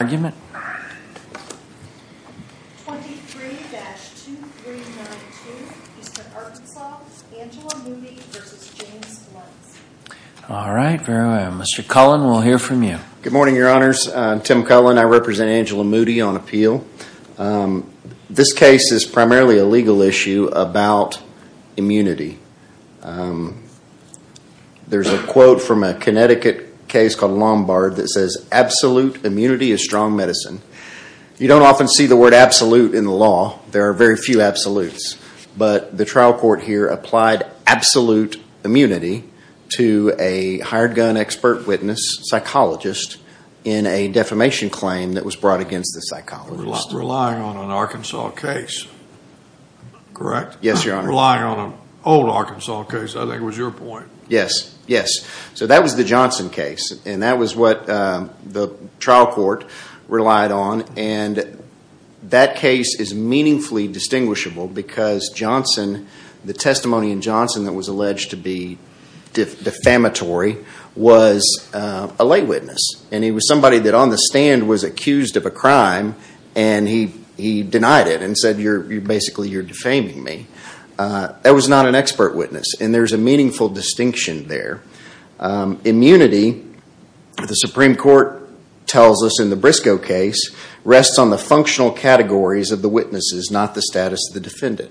Good morning, your honors. I'm Tim Cullen. I represent Angela Moody on appeal. This case is primarily a legal issue about immunity. There's a quote from a Connecticut case called Strong Medicine. You don't often see the word absolute in the law. There are very few absolutes. But the trial court here applied absolute immunity to a hired gun expert witness, psychologist, in a defamation claim that was brought against the psychologist. You're relying on an Arkansas case, correct? Yes, your honor. You're relying on an old Arkansas case, I think was your point. Yes, yes. So that was the Johnson case. And that was what the trial court relied on. And that case is meaningfully distinguishable because Johnson, the testimony in Johnson that was alleged to be defamatory, was a lay witness. And he was somebody that on the stand was accused of a crime and he denied it and said basically you're defaming me. That was not an expert witness. And there's a meaningful distinction there. Immunity, the Supreme Court tells us in the Briscoe case, rests on the functional categories of the witnesses, not the status of the defendant.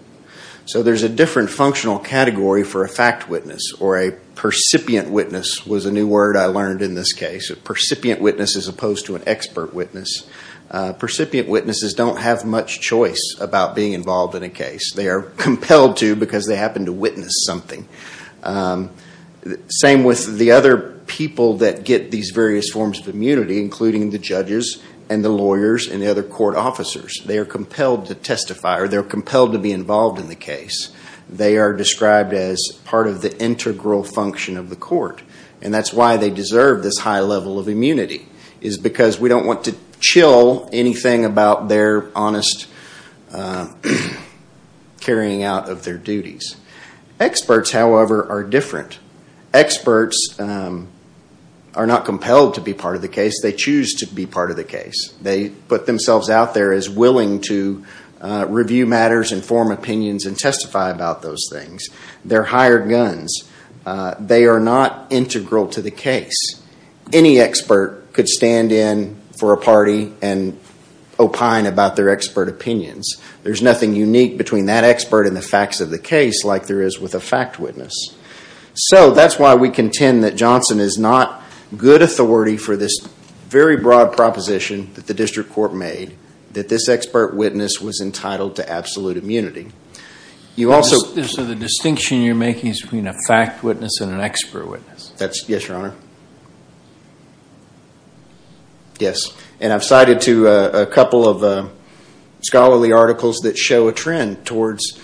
So there's a different functional category for a fact witness or a percipient witness was a new word I learned in this case. A percipient witness as opposed to an expert witness. Percipient witnesses don't have much choice about being involved in a case. They are compelled to because they happen to witness something. Same with the other people that get these various forms of immunity, including the judges and the lawyers and the other court officers. They are compelled to testify or they're compelled to be involved in the case. They are described as part of the integral function of the court. And that's why they deserve this high level of immunity is because we don't want to chill anything about their honest carrying out of their duties. Experts, however, are different. Experts are not compelled to be part of the case. They choose to be part of the case. They put themselves out there as willing to review matters and form opinions and testify about those things. They're higher guns. They are not integral to the case. Any expert could stand in for a party and opine about their expert opinions. There's nothing unique between that expert and the facts of the case like there is with a fact witness. So that's why we contend that Johnson is not good authority for this very broad proposition that the district court made that this expert witness was entitled to absolute immunity. So the distinction you're making is between a fact witness and an expert witness? Yes, Your Honor. Yes, and I've cited to a couple of scholarly articles that show a trend towards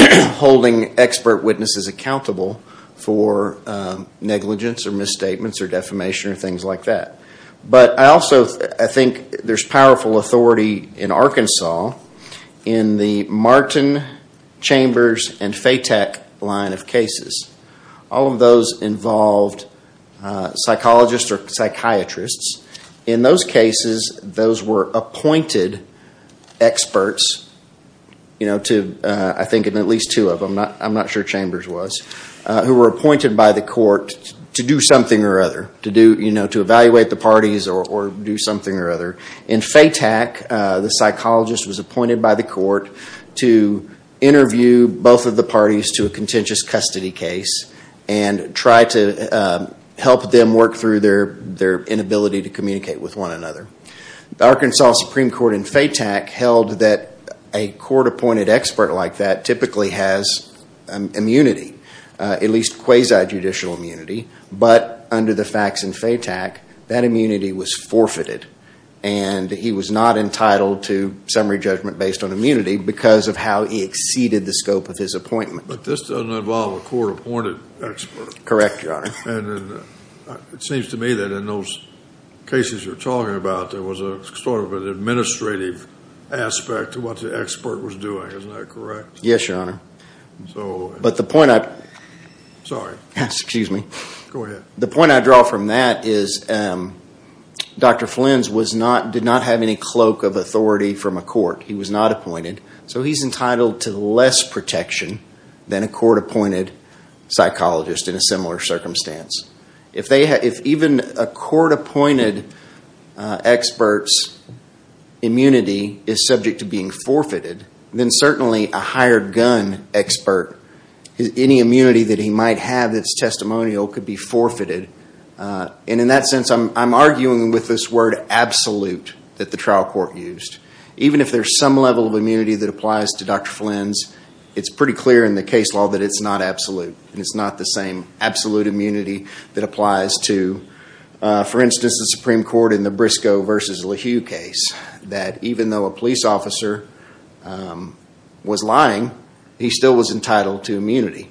holding expert witnesses accountable for negligence or misstatements or defamation or things like that. But I also think there's powerful authority in Arkansas in the Martin, Chambers, and Fatak line of cases. All of those involved psychologists or psychiatrists. In those cases, those were appointed experts, I think at least two of them, I'm not sure Chambers was, who were appointed by the court to do something or other, to evaluate the parties or do something or other. In Fatak, the psychologist was appointed by the court to interview both of the parties to a contentious custody case and try to help them work through their inability to communicate with one another. The Arkansas Supreme Court in Fatak held that a court-appointed expert like that typically has immunity, at least quasi-judicial immunity. But under the facts in Fatak, that immunity was forfeited. And he was not entitled to summary judgment based on immunity because of how he exceeded the scope of his appointment. But this doesn't involve a court-appointed expert. Correct, Your Honor. And it seems to me that in those cases you're talking about, there was a sort of an administrative aspect to what the expert was doing. Isn't that correct? Yes, Your Honor. So... But the point I... Sorry. Excuse me. Go ahead. The point I draw from that is Dr. Flins did not have any cloak of authority from a court. He was not appointed. So he's entitled to less protection than a court-appointed psychologist in a similar circumstance. If even a court-appointed expert's immunity is subject to being forfeited, then certainly a hired gun expert, any immunity that he might have that's testimonial could be forfeited. And in that sense, I'm arguing with this word absolute that the trial court used. Even if there's some level of immunity that applies to Dr. Flins, it's pretty clear in the case law that it's not absolute. And it's not the same absolute immunity that applies to, for instance, the Supreme Court in the Briscoe versus LeHue case. That even though a police officer was lying, he still was entitled to immunity.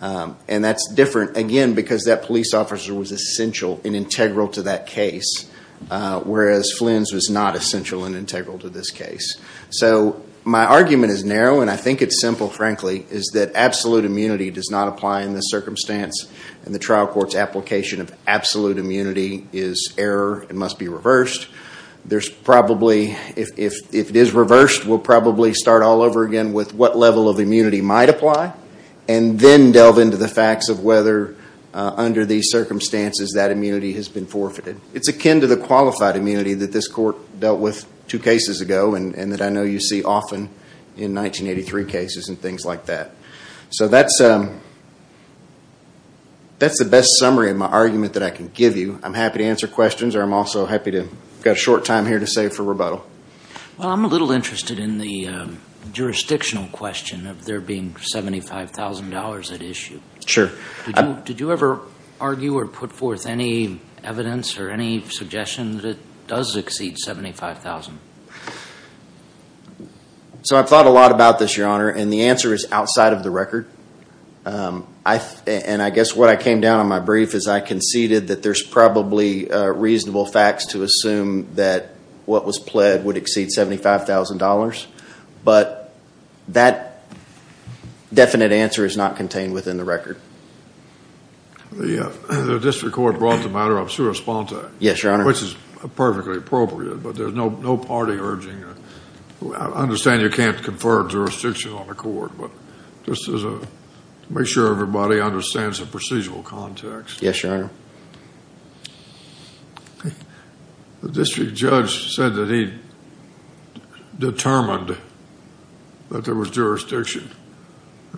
And that's different, again, because that police officer was essential and integral to that case. Whereas Flins was not essential and integral to this case. So my argument is narrow. And I think it's simple, frankly, is that absolute immunity does not apply in this circumstance. And the trial court's application of absolute immunity is error. It must be reversed. There's probably, if it is reversed, we'll probably start all over again with what level of immunity might apply. And then delve into the facts of whether under these circumstances that immunity has been forfeited. It's akin to the qualified immunity that this court dealt with two cases ago. And that I know you see often in 1983 cases and things like that. So that's the best summary of my argument that I can give you. I'm happy to answer questions or I'm also happy to, I've got a short time here to save for rebuttal. Well, I'm a little interested in the jurisdictional question of there being $75,000 at issue. Sure. Did you ever argue or put forth any evidence or any suggestion that it does exceed $75,000? So I've thought a lot about this, Your Honor. And the answer is outside of the record. And I guess what I came down on my brief is I conceded that there's probably reasonable facts to assume that what was pled would exceed $75,000. But that definite answer is not contained within the record. The district court brought the matter up to respond to. Yes, Your Honor. Which is perfectly appropriate, but there's no party urging. I understand you can't confer jurisdiction on the court, but just to make sure everybody understands the procedural context. Yes, Your Honor. The district judge said that he determined that there was jurisdiction.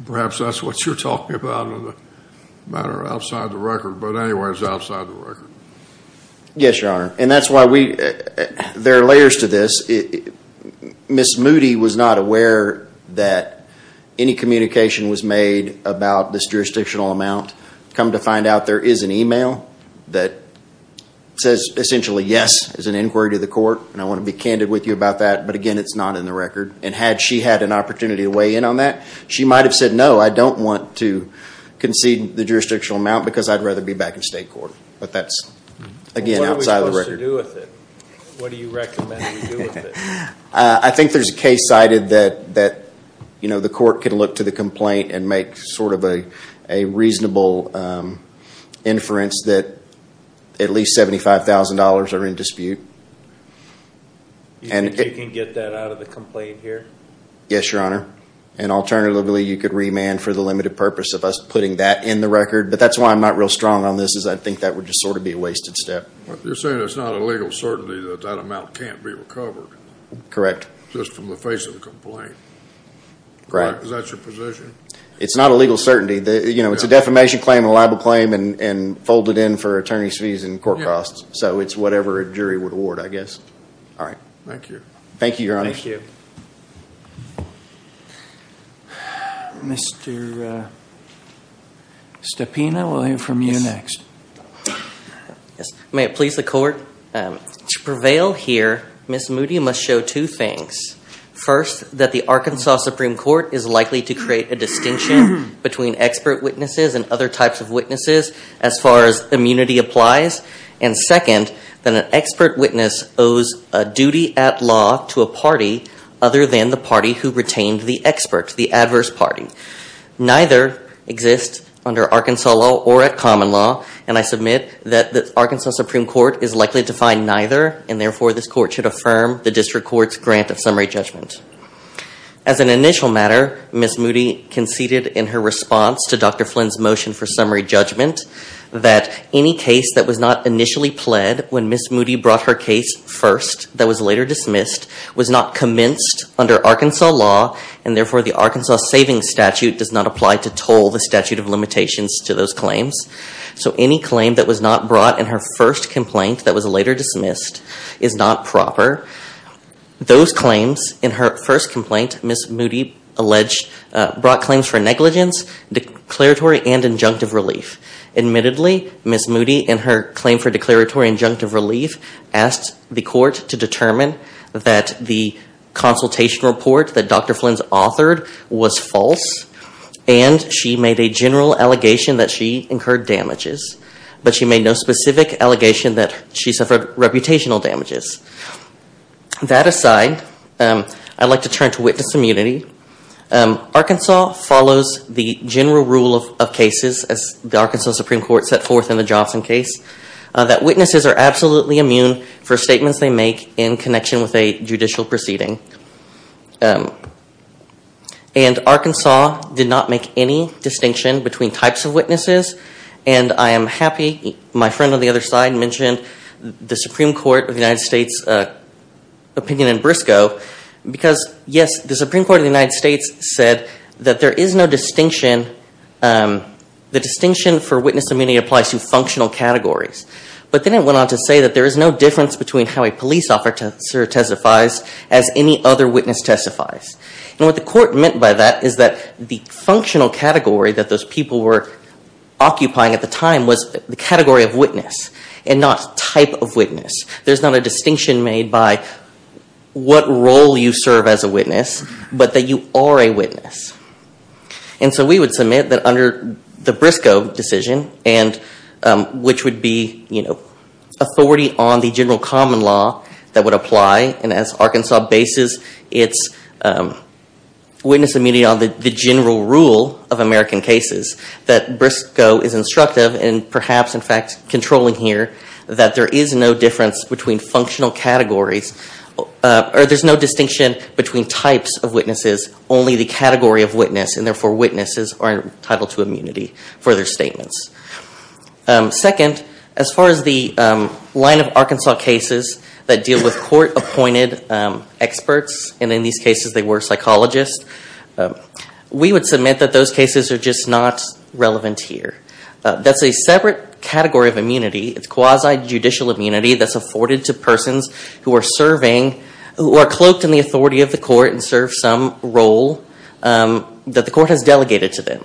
Perhaps that's what you're talking about in the matter outside the record. But anyway, it's outside the record. Yes, Your Honor. And that's why there are layers to this. Ms. Moody was not aware that any communication was made about this jurisdictional amount. Come to find out there is an email that says essentially, yes, there's an inquiry to the court. And I want to be candid with you about that. But again, it's not in the record. And had she had an opportunity to weigh in on that, she might have said, no, I don't want to concede the jurisdictional amount because I'd rather be back in state court. But that's again, outside of the record. What are we supposed to do with it? What do you recommend we do with it? I think there's a case cited that the court can look to the complaint and make sort of a reasonable inference that at least $75,000 are in dispute. Do you think you can get that out of the complaint here? Yes, Your Honor. And alternatively, you could remand for the limited purpose of us putting that in the record. But that's why I'm not real strong on this is I think that would just sort of be a wasted step. You're saying it's not a legal certainty that that amount can't be recovered? Correct. Just from the face of the complaint? Correct. Is that your position? It's not a legal certainty. You know, it's a defamation claim, a libel claim and folded in for attorney's fees and court costs. So it's whatever a jury would award, I guess. All right. Thank you. Thank you, Your Honor. Thank you. Mr. Stepina, we'll hear from you next. Yes. May it please the court. To prevail here, Ms. Moody must show two things. First, that the Arkansas Supreme Court is likely to create a distinction between expert witnesses and other types of witnesses as far as immunity applies. And second, that an expert witness owes a duty at law to a party other than the party who retained the expert, the adverse party. Neither exists under Arkansas law or at common law. And I submit that the Arkansas Supreme Court is likely to find neither. And therefore, this court should affirm the district court's grant of summary judgment. As an initial matter, Ms. Moody conceded in her response to Dr. Flynn's motion for summary judgment that any case that was not initially pled when Ms. Moody brought her case first that was later dismissed was not commenced under Arkansas law. And therefore, the Arkansas savings statute does not apply to toll the statute of limitations to those claims. So any claim that was not brought in her first complaint that was later dismissed is not proper. Those claims in her first complaint, Ms. Moody brought claims for negligence, declaratory, and injunctive relief. Admittedly, Ms. Moody in her claim for declaratory injunctive relief asked the court to determine that the consultation report that Dr. Flynn's authored was false. And she made a general allegation that she incurred damages. But she made no specific allegation that she suffered reputational damages. That aside, I'd like to turn to witness immunity. Arkansas follows the general rule of cases, as the Arkansas Supreme Court set forth in the Johnson case, that witnesses are absolutely immune for statements they make in connection with a judicial proceeding. And Arkansas did not make any distinction between types of witnesses. And I am happy my friend on the other side mentioned the Supreme Court of the United States opinion in Briscoe. Because yes, the Supreme Court of the United States said that there is no distinction. The distinction for witness immunity applies to functional categories. But then it went on to say that there is no difference between how a police officer testifies as any other witness testifies. And what the court meant by that is that the functional category that those people were occupying at the time was the category of witness and not type of witness. There's not a distinction made by what role you serve as a witness, but that you are a witness. And so we would submit that under the Briscoe decision, which would be authority on the general common law that would apply. And as Arkansas bases its witness immunity on the general rule of American cases, that between functional categories, or there's no distinction between types of witnesses, only the category of witness, and therefore witnesses are entitled to immunity for their statements. Second, as far as the line of Arkansas cases that deal with court-appointed experts, and in these cases they were psychologists, we would submit that those cases are just not relevant here. That's a separate category of immunity. It's quasi-judicial immunity that's afforded to persons who are serving, who are cloaked in the authority of the court and serve some role that the court has delegated to them.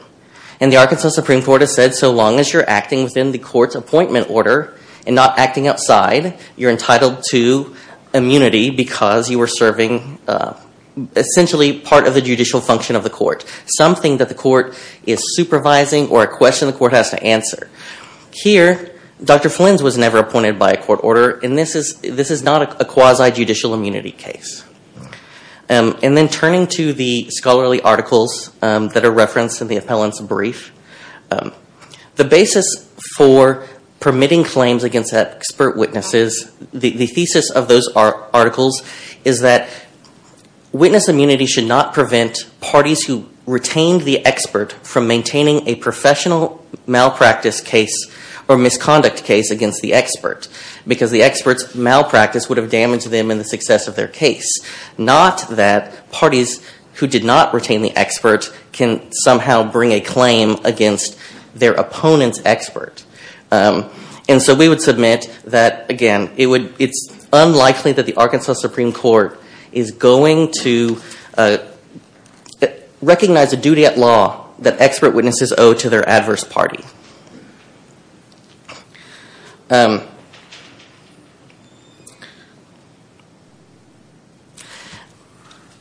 And the Arkansas Supreme Court has said so long as you're acting within the court's appointment order and not acting outside, you're entitled to immunity because you are serving essentially part of the judicial function of the court. Something that the court is supervising or a question the court has to answer. Here, Dr. Flynn's was never appointed by a court order and this is not a quasi-judicial immunity case. And then turning to the scholarly articles that are referenced in the appellant's brief, the basis for permitting claims against expert witnesses, the thesis of those articles is that witness immunity should not prevent parties who retained the expert from maintaining a misconduct case against the expert because the expert's malpractice would have damaged them in the success of their case. Not that parties who did not retain the expert can somehow bring a claim against their opponent's expert. And so we would submit that, again, it's unlikely that the Arkansas Supreme Court is going to recognize a duty at law that expert witnesses owe to their adverse party.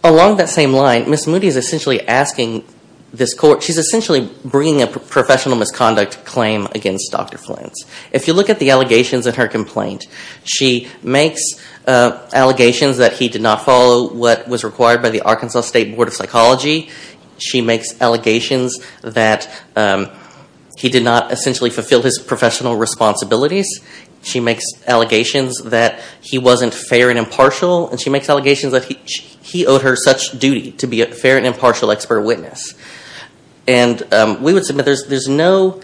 Along that same line, Ms. Moody is essentially asking this court, she's essentially bringing a professional misconduct claim against Dr. Flynn. If you look at the allegations in her complaint, she makes allegations that he did not follow what was required by the Arkansas State Board of Psychology. She makes allegations that he did not essentially fulfill his professional responsibilities. She makes allegations that he wasn't fair and impartial. And she makes allegations that he owed her such duty to be a fair and impartial expert witness. And we would submit there's no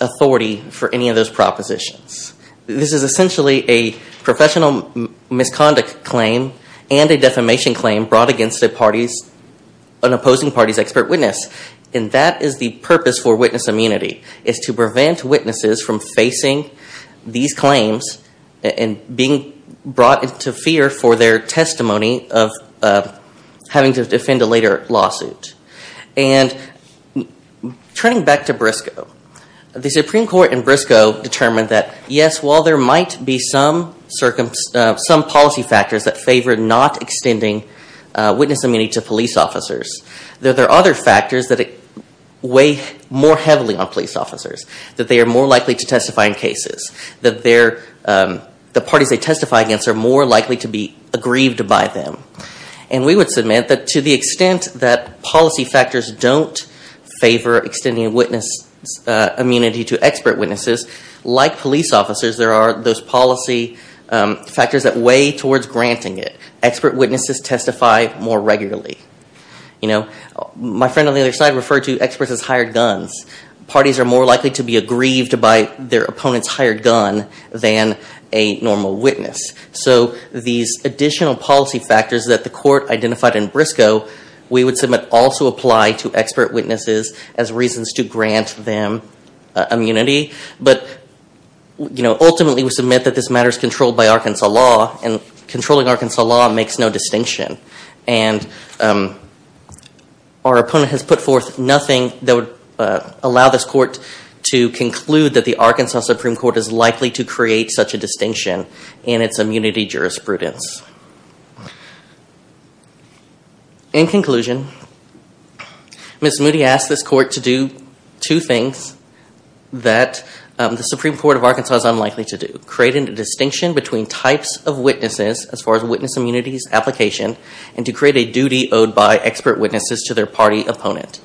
authority for any of those propositions. This is essentially a professional misconduct claim and a defamation claim brought against an opposing party's expert witness. And that is the purpose for witness immunity, is to prevent witnesses from facing these claims and being brought into fear for their testimony of having to defend a later lawsuit. And turning back to Briscoe, the Supreme Court in Briscoe determined that, yes, while there officers, there are other factors that weigh more heavily on police officers, that they are more likely to testify in cases, that the parties they testify against are more likely to be aggrieved by them. And we would submit that to the extent that policy factors don't favor extending witness immunity to expert witnesses, like police officers, there are those policy factors that weigh towards granting it. Expert witnesses testify more regularly. My friend on the other side referred to experts as hired guns. Parties are more likely to be aggrieved by their opponent's hired gun than a normal witness. So these additional policy factors that the court identified in Briscoe, we would submit also apply to expert witnesses as reasons to grant them immunity. But ultimately, we submit that this matter is controlled by Arkansas law. And controlling Arkansas law makes no distinction. And our opponent has put forth nothing that would allow this court to conclude that the Arkansas Supreme Court is likely to create such a distinction in its immunity jurisprudence. In conclusion, Ms. Moody asked this court to do two things that the Supreme Court of Arkansas is unlikely to do. Create a distinction between types of witnesses, as far as witness immunity's application, and to create a duty owed by expert witnesses to their party opponent.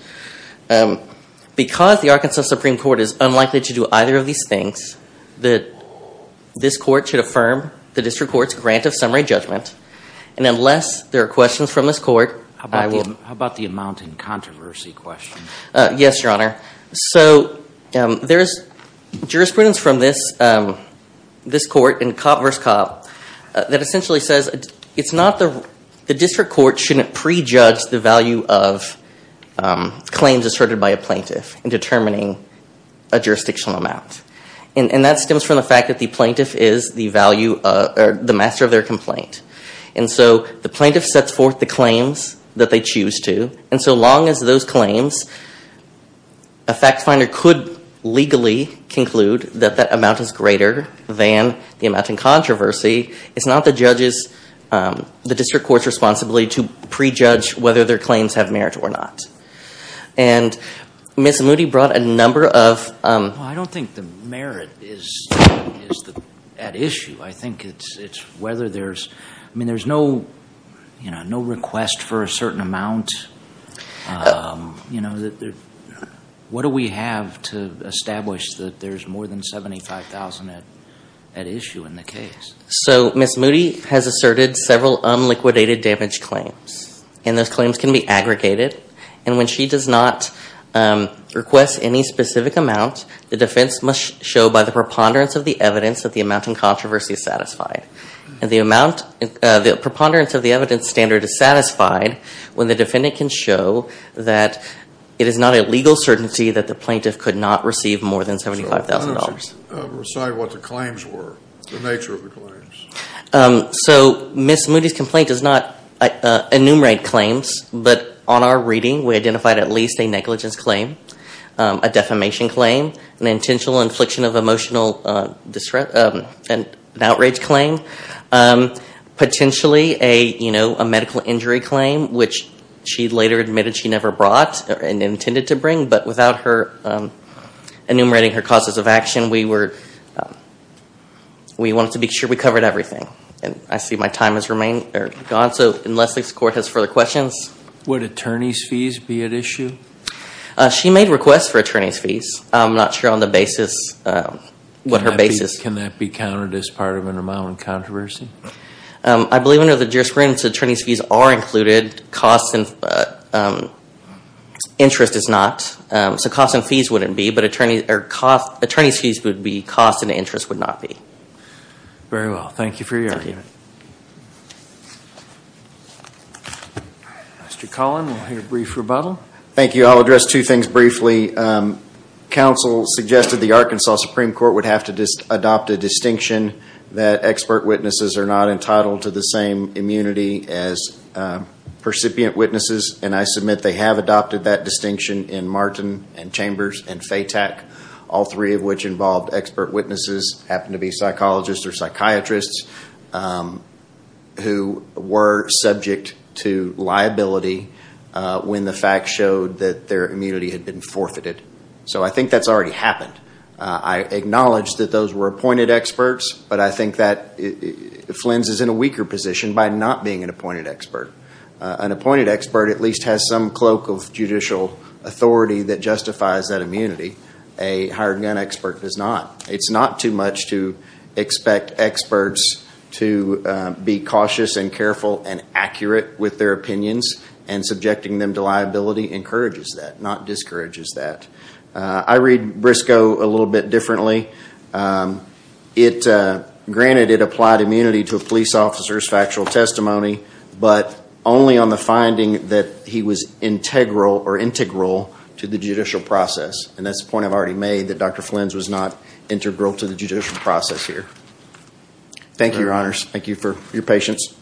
Because the Arkansas Supreme Court is unlikely to do either of these things, this court should affirm the district court's grant of summary judgment. And unless there are questions from this court, I will- How about the amount in controversy question? Yes, Your Honor. So there is jurisprudence from this court in Cobb v. Cobb that essentially says it's not the- the district court shouldn't prejudge the value of claims asserted by a plaintiff in determining a jurisdictional amount. And that stems from the fact that the plaintiff is the master of their complaint. And so the plaintiff sets forth the claims that they choose to. And so long as those claims, a fact finder could legally conclude that that amount is greater than the amount in controversy, it's not the judge's- the district court's responsibility to prejudge whether their claims have merit or not. And Ms. Moody brought a number of- I don't think the merit is at issue. I think it's whether there's- I mean, there's no, you know, no request for a certain amount of, you know, what do we have to establish that there's more than $75,000 at issue in the case? So Ms. Moody has asserted several unliquidated damage claims. And those claims can be aggregated. And when she does not request any specific amount, the defense must show by the preponderance of the evidence that the amount in controversy is satisfied. And the amount- the preponderance of the evidence standard is satisfied when the defendant can show that it is not a legal certainty that the plaintiff could not receive more than $75,000. So why don't you recite what the claims were, the nature of the claims? So Ms. Moody's complaint does not enumerate claims. But on our reading, we identified at least a negligence claim, a defamation claim, an intentional infliction of emotional distress, an outrage claim, potentially a, a medical injury claim, which she later admitted she never brought and intended to bring. But without her enumerating her causes of action, we were, we wanted to be sure we covered everything. And I see my time has remained, or gone. So unless this court has further questions. Would attorney's fees be at issue? She made requests for attorney's fees. I'm not sure on the basis, what her basis- Can that be counted as part of an amount in controversy? I believe under the jurisprudence, attorney's fees are included. Cost and interest is not. So cost and fees wouldn't be. But attorney's fees would be. Cost and interest would not be. Very well. Thank you for your argument. Mr. Collin, we'll hear a brief rebuttal. Thank you. I'll address two things briefly. Counsel suggested the Arkansas Supreme Court would have to adopt a distinction that expert witnesses are not entitled to the same immunity as percipient witnesses. And I submit they have adopted that distinction in Martin and Chambers and Fatak, all three of which involved expert witnesses, happened to be psychologists or psychiatrists, who were subject to liability when the facts showed that their immunity had been forfeited. So I think that's already happened. I acknowledge that those were appointed experts, but I think that Flynn's is in a weaker position by not being an appointed expert. An appointed expert at least has some cloak of judicial authority that justifies that immunity. A hired gun expert does not. It's not too much to expect experts to be cautious and careful and accurate with their opinions and subjecting them to liability encourages that, not discourages that. I read Briscoe a little bit differently. Granted, it applied immunity to a police officer's factual testimony, but only on the finding that he was integral or integral to the judicial process. And that's the point I've already made, that Dr. Flynn's was not integral to the judicial process here. Thank you, your honors. Thank you for your patience.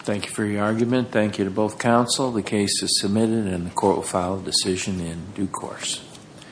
Thank you for your argument. Thank you to both counsel. The case is submitted and the court will file a decision in due course. Thank you.